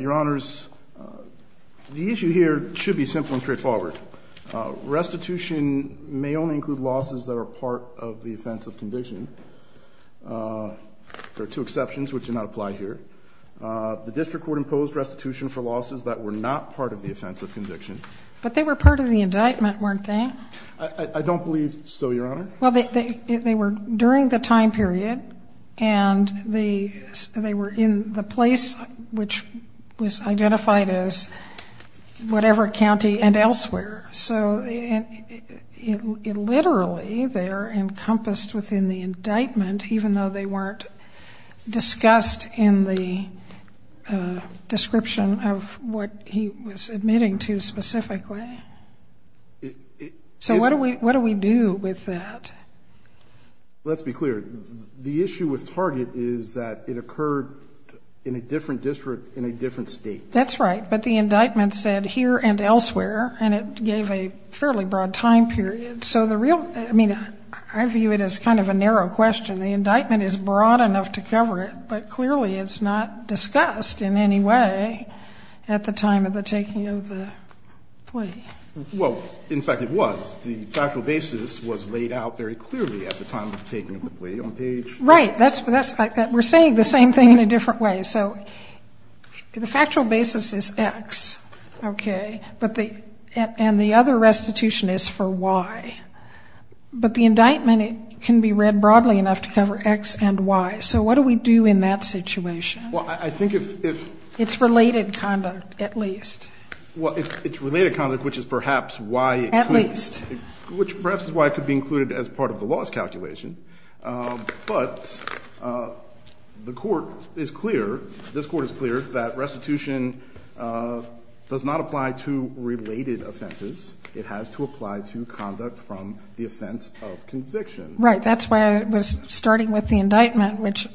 Your Honors, the issue here should be simple and straightforward. Restitution may only include losses that are part of the offense of conviction. There are two exceptions which do not apply here. The district court imposed restitution for losses that were not part of the offense of conviction. But they were part of the indictment, weren't they? I don't believe so, Your Honor. Well, they were during the time period, and they were in the place which was identified as whatever county and elsewhere. So literally, they are encompassed within the indictment, even though they weren't discussed in the description of what he was admitting to specifically. So what do we do with that? Let's be clear. The issue with Target is that it occurred in a different district in a different state. That's right, but the indictment said here and elsewhere, and it gave a fairly broad time period. So the real – I mean, I view it as kind of a narrow question. The indictment is broad enough to cover it, but clearly it's not discussed in any way at the time of the taking of the plea. Well, in fact, it was. The factual basis was laid out very clearly at the time of the taking of the plea on the page. Right. We're saying the same thing in a different way. So the factual basis is X, okay, and the other restitution is for Y. But the indictment can be read broadly enough to cover X and Y. So what do we do in that situation? Well, I think if – It's related conduct, at least. Well, it's related conduct, which is perhaps why it could – At least. The Court is clear – this Court is clear that restitution does not apply to related offenses. It has to apply to conduct from the offense of conviction. Right. That's why I was starting with the indictment, which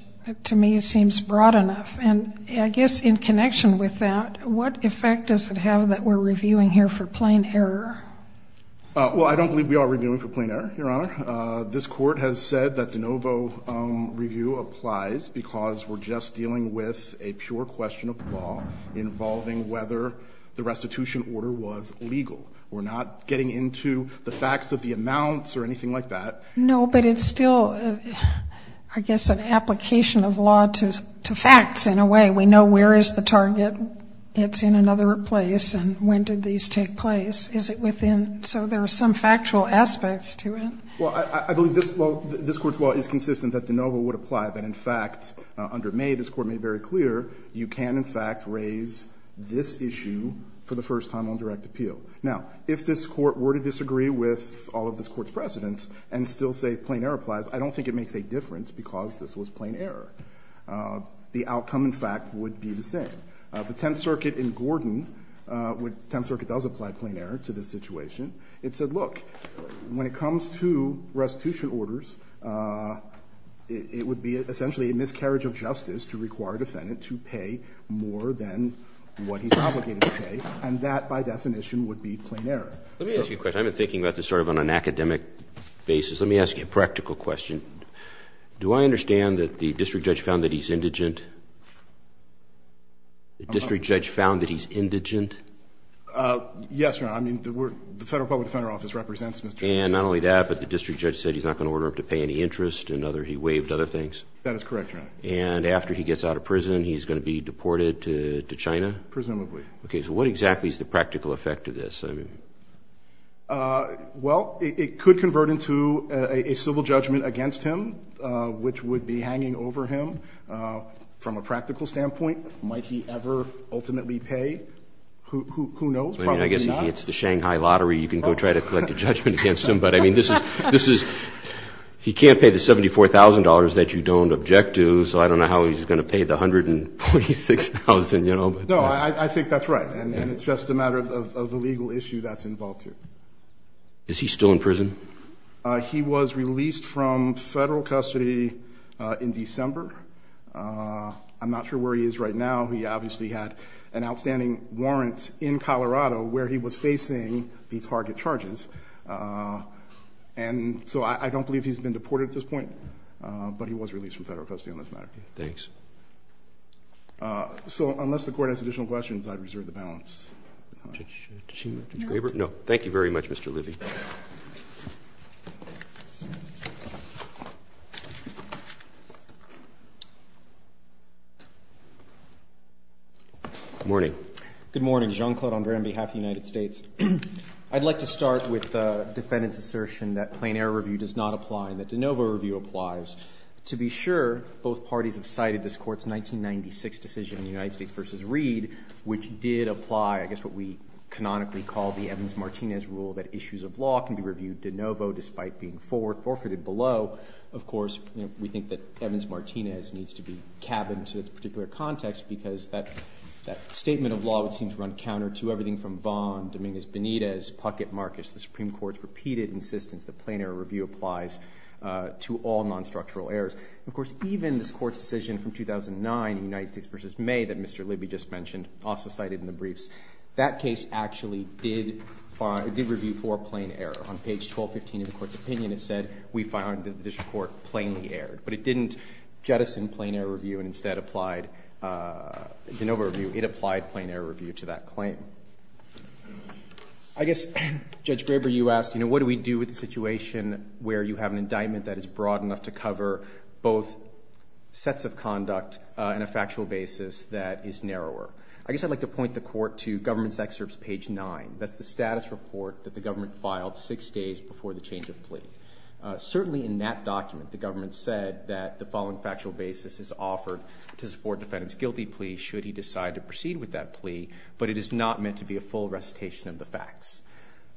to me seems broad enough. And I guess in connection with that, what effect does it have that we're reviewing here for plain error? Well, I don't believe we are reviewing for plain error, Your Honor. This Court has said that de novo review applies because we're just dealing with a pure question of law involving whether the restitution order was legal. We're not getting into the facts of the amounts or anything like that. No, but it's still, I guess, an application of law to facts in a way. We know where is the target. It's in another place. And when did these take place? Is it within – so there are some factual aspects to it. Well, I believe this Court's law is consistent that de novo would apply, that in fact under May this Court made very clear you can, in fact, raise this issue for the first time on direct appeal. Now, if this Court were to disagree with all of this Court's precedents and still say plain error applies, I don't think it makes a difference because this was plain error. The outcome, in fact, would be the same. The Tenth Circuit in Gordon, when the Tenth Circuit does apply plain error to this to restitution orders, it would be essentially a miscarriage of justice to require a defendant to pay more than what he's obligated to pay. And that, by definition, would be plain error. Let me ask you a question. I've been thinking about this sort of on an academic basis. Let me ask you a practical question. Do I understand that the district judge found that he's indigent? The district judge found that he's indigent? Yes, Your Honor. And not only that, but the district judge said he's not going to order him to pay any interest and other, he waived other things? That is correct, Your Honor. And after he gets out of prison, he's going to be deported to China? Presumably. Okay. So what exactly is the practical effect of this? Well, it could convert into a civil judgment against him, which would be hanging over him. From a practical standpoint, might he ever ultimately pay? Who knows? Probably not. I guess it's the Shanghai lottery. You can go try to collect a judgment against him. But, I mean, this is, he can't pay the $74,000 that you don't object to. So I don't know how he's going to pay the $146,000, you know. No, I think that's right. And it's just a matter of the legal issue that's involved here. Is he still in prison? He was released from Federal custody in December. I'm not sure where he is right now. He obviously had an outstanding warrant in Colorado where he was facing the target charges. And so I don't believe he's been deported at this point. But he was released from Federal custody on this matter. Thanks. So unless the Court has additional questions, I reserve the balance. Did she? No. No. Thank you very much, Mr. Libby. Good morning. Good morning. Jean-Claude André on behalf of the United States. I'd like to start with the defendant's assertion that plain error review does not apply and that de novo review applies. To be sure, both parties have cited this Court's 1996 decision in the United States v. Reed, which did apply, I guess what we canonically call the Evans-Martinez rule, that issues are brought to the Court's discretion. de novo despite being forfeited below. Of course, we think that Evans-Martinez needs to be cabined to a particular context because that statement of law would seem to run counter to everything from Bond, Dominguez-Benitez, Puckett-Marcus. The Supreme Court's repeated insistence that plain error review applies to all non-structural errors. Of course, even this Court's decision from 2009 in the United States v. May that Mr. Libby just mentioned, also cited in the briefs, that case actually did review for plain error. On page 1215 of the Court's opinion, it said we find that this Court plainly erred, but it didn't jettison plain error review and instead applied de novo review. It applied plain error review to that claim. I guess, Judge Graber, you asked, you know, what do we do with the situation where you have an indictment that is broad enough to cover both sets of conduct and a factual basis that is narrower? I guess I'd like to point the Court to government's excerpts page 9. That's the status report that the government filed six days before the change of plea. Certainly in that document, the government said that the following factual basis is offered to support defendant's guilty plea should he decide to proceed with that plea, but it is not meant to be a full recitation of the facts.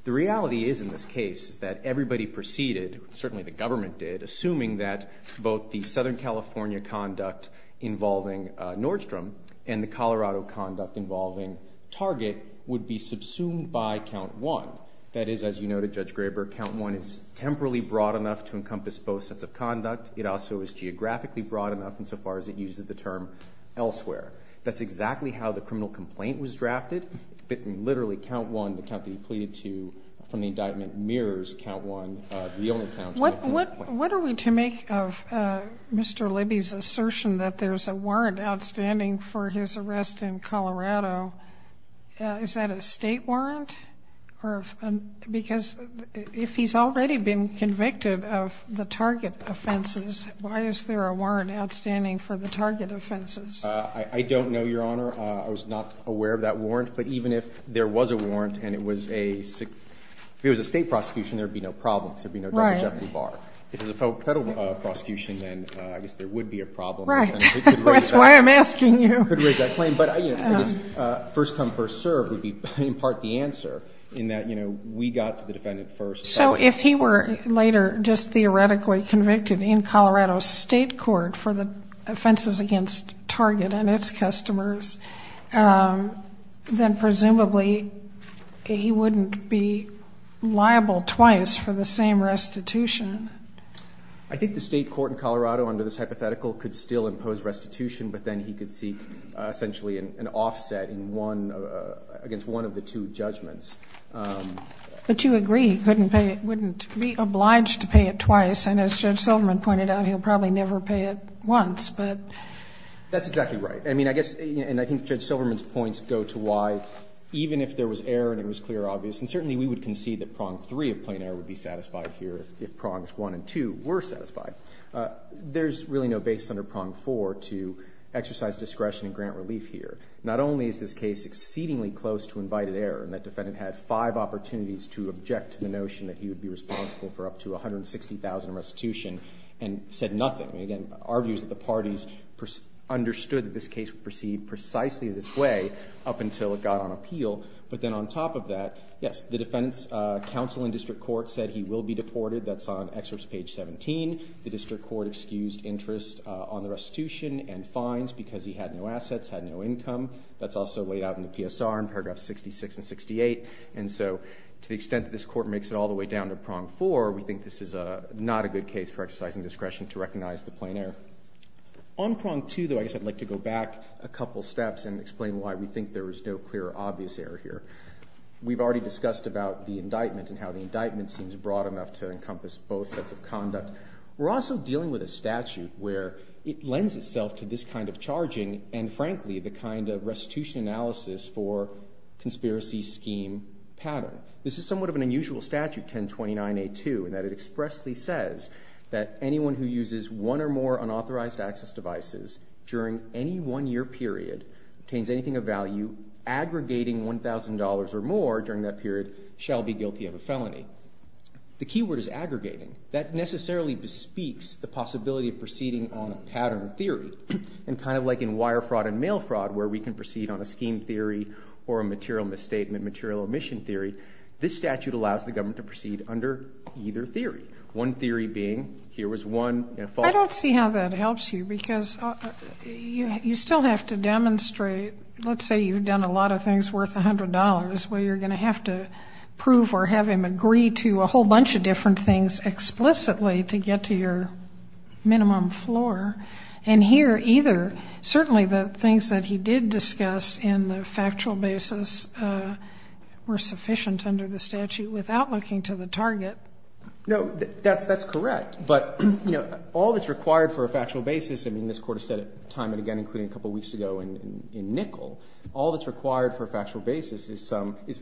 The reality is in this case is that everybody preceded, certainly the government did, assuming that both the Southern California conduct involving Nordstrom and the Colorado conduct involving Target would be subsumed by count 1. That is, as you noted, Judge Graber, count 1 is temporally broad enough to encompass both sets of conduct. It also is geographically broad enough insofar as it uses the term elsewhere. That's exactly how the criminal complaint was drafted, but literally count 1, the count that you pleaded to from the indictment, mirrors count 1, the only count. Sotomayor, what are we to make of Mr. Libby's assertion that there's a warrant outstanding for his arrest in Colorado? Is that a State warrant? Because if he's already been convicted of the Target offenses, why is there a warrant outstanding for the Target offenses? I don't know, Your Honor. I was not aware of that warrant. But even if there was a warrant and it was a State prosecution, there would be no problems, there would be no damage at the bar. Right. If it was a Federal prosecution, then I guess there would be a problem. Right. That's why I'm asking you. It could raise that claim. But I guess first come, first served would be in part the answer in that, you know, we got to the defendant first. So if he were later just theoretically convicted in Colorado State court for the offenses against Target and its customers, then presumably he wouldn't be liable twice for the same restitution. I think the State court in Colorado under this hypothetical could still impose restitution, but then he could seek essentially an offset in one of the – against one of the two judgments. But you agree he couldn't pay – wouldn't be obliged to pay it twice. And as Judge Silverman pointed out, he'll probably never pay it once. But – That's exactly right. I mean, I guess – and I think Judge Silverman's points go to why even if there was error and it was clear or obvious, and certainly we would concede that prong three of plain error would be satisfied here if prongs one and two were satisfied. There's really no basis under prong four to exercise discretion and grant relief here. Not only is this case exceedingly close to invited error in that defendant had five opportunities to object to the notion that he would be responsible for up to $160,000 in restitution and said nothing. I mean, again, our view is that the parties understood that this case would proceed precisely this way up until it got on appeal. But then on top of that, yes, the defendant's counsel in district court said he will be deported. That's on excerpts page 17. The district court excused interest on the restitution and fines because he had no assets, had no income. That's also laid out in the PSR in paragraph 66 and 68. And so to the extent that this Court makes it all the way down to prong four, we think this is not a good case for exercising discretion to recognize the plain error. On prong two, though, I guess I'd like to go back a couple steps and explain why we think there is no clear or obvious error here. We've already discussed about the indictment and how the indictment seems broad enough to encompass both sets of conduct. We're also dealing with a statute where it lends itself to this kind of charging and, frankly, the kind of restitution analysis for conspiracy scheme pattern. This is somewhat of an unusual statute, 1029A2, in that it expressly says that anyone who uses one or more unauthorized access devices during any one-year period obtains anything of value, aggregating $1,000 or more during that period, shall be guilty of a felony. The key word is aggregating. That necessarily bespeaks the possibility of proceeding on a pattern theory. And kind of like in wire fraud and mail fraud where we can proceed on a scheme theory or a material misstatement, material omission theory, this statute allows the government to proceed under either theory, one theory being here was one false Let's see how that helps you, because you still have to demonstrate, let's say you've done a lot of things worth $100, where you're going to have to prove or have him agree to a whole bunch of different things explicitly to get to your minimum floor. And here, either, certainly the things that he did discuss in the factual basis were sufficient under the statute without looking to the target. No, that's correct. But, you know, all that's required for a factual basis, I mean, this Court has said time and again, including a couple weeks ago in NICL, all that's required for a factual basis is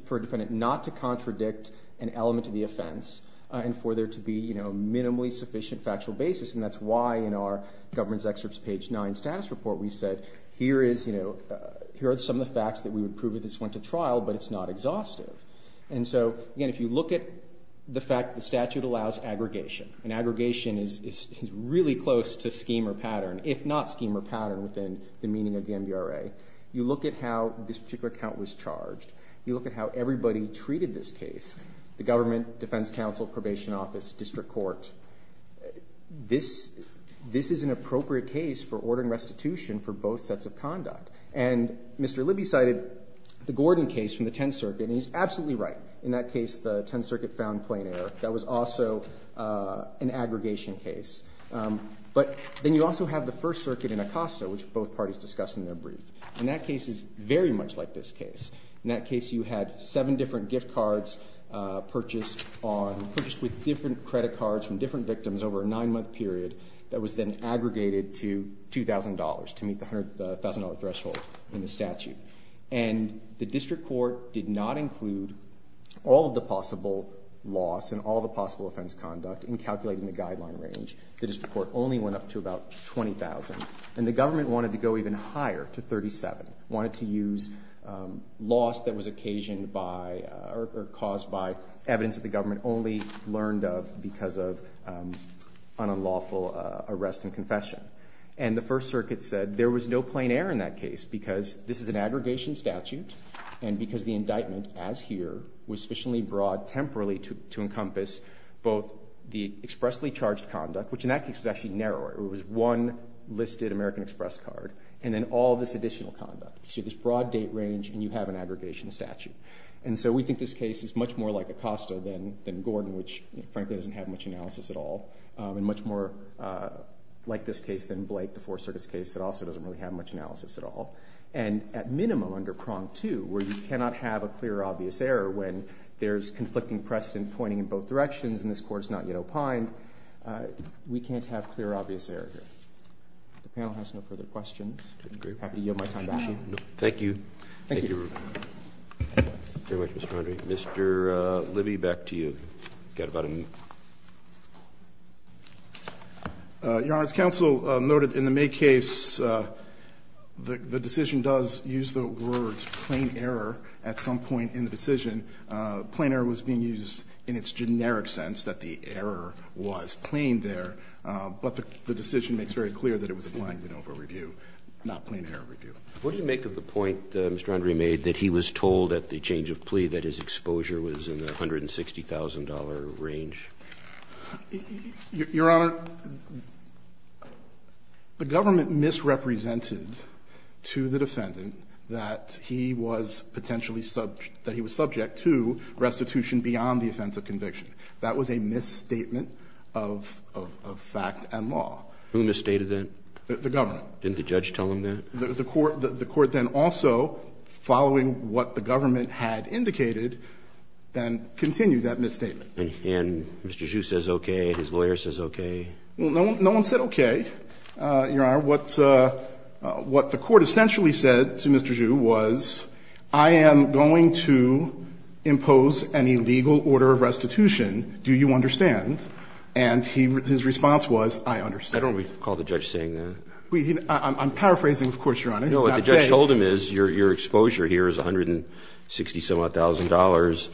for a defendant not to contradict an element of the offense and for there to be, you know, a minimally sufficient factual basis. And that's why in our government's excerpts page 9 status report we said, here are some of the facts that we would prove if this went to trial, but it's not exhaustive. And so, again, if you look at the fact that the statute allows aggregation, an aggregation is really close to scheme or pattern, if not scheme or pattern within the meaning of the MBRA. You look at how this particular account was charged. You look at how everybody treated this case, the government, defense counsel, probation office, district court. This is an appropriate case for ordering restitution for both sets of conduct. And Mr. Libby cited the Gordon case from the Tenth Circuit, and he's absolutely right. In that case, the Tenth Circuit found plain error. That was also an aggregation case. But then you also have the First Circuit in Acosta, which both parties discussed in their brief. And that case is very much like this case. In that case, you had seven different gift cards purchased with different credit cards from different victims over a nine-month period that was then aggregated to $2,000 to meet the $1,000 threshold in the statute. And the district court did not include all of the possible loss and all of the possible offense conduct in calculating the guideline range. The district court only went up to about $20,000. And the government wanted to go even higher to $37,000, wanted to use loss that was occasioned by or caused by evidence that the government only learned of because of an unlawful arrest and confession. And the First Circuit said there was no plain error in that case because this is an aggregation statute and because the indictment, as here, was sufficiently broad temporally to encompass both the expressly charged conduct, which in that case was actually narrower. It was one listed American Express card, and then all this additional conduct. So you have this broad date range and you have an aggregation statute. And so we think this case is much more like Acosta than Gordon, which frankly doesn't have much analysis at all. And much more like this case than Blake, the Fourth Circuit's case, that also doesn't really have much analysis at all. And at minimum under prong two, where you cannot have a clear, obvious error when there's conflicting precedent pointing in both directions and this court's not yet opined, we can't have clear, obvious error here. If the panel has no further questions, I'm happy to yield my time back. Thank you. Thank you. Thank you very much, Mr. Mondry. Mr. Libby, back to you. You've got about a minute. Your Honor, as counsel noted, in the May case, the decision does use the words plain error at some point in the decision. Plain error was being used in its generic sense, that the error was plain there, but the decision makes very clear that it was a blind and over review, not plain error review. What do you make of the point that Mr. Mondry made, that he was told at the change of plea that his exposure was in the $160,000 range? Your Honor, the government misrepresented to the defendant that he was potentially subject, that he was subject to restitution beyond the offense of conviction. That was a misstatement of fact and law. Who misstated that? The government. Didn't the judge tell him that? The court then also, following what the government had indicated, then continued that misstatement. And Mr. Zhu says okay, his lawyer says okay. No one said okay, Your Honor. What the court essentially said to Mr. Zhu was, I am going to impose an illegal order of restitution, do you understand? And his response was, I understand. Why don't we call the judge saying that? I'm paraphrasing, of course, Your Honor. No, what the judge told him is your exposure here is $160,000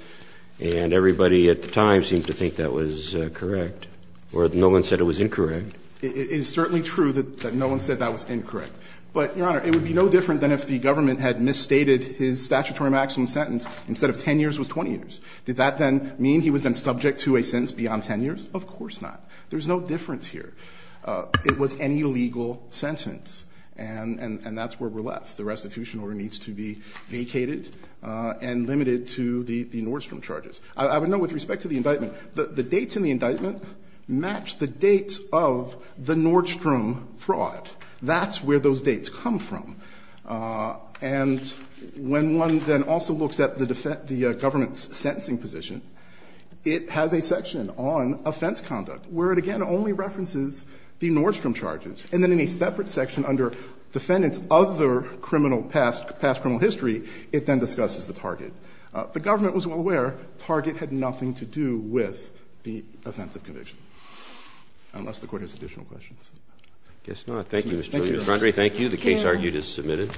and everybody at the time seemed to think that was correct. Or no one said it was incorrect. It is certainly true that no one said that was incorrect. But, Your Honor, it would be no different than if the government had misstated his statutory maximum sentence instead of 10 years was 20 years. Did that then mean he was then subject to a sentence beyond 10 years? Of course not. There's no difference here. It was an illegal sentence. And that's where we're left. The restitution order needs to be vacated and limited to the Nordstrom charges. I would note with respect to the indictment, the dates in the indictment match the dates of the Nordstrom fraud. That's where those dates come from. And when one then also looks at the government's sentencing position, it has a section on offense conduct, where it again only references the Nordstrom charges. And then in a separate section under defendants of other criminal past, past criminal history, it then discusses the target. The government was well aware target had nothing to do with the offense of conviction, unless the Court has additional questions. Roberts. Thank you, Mr. Giuliano. Mr. Andre, thank you. The case argued is submitted.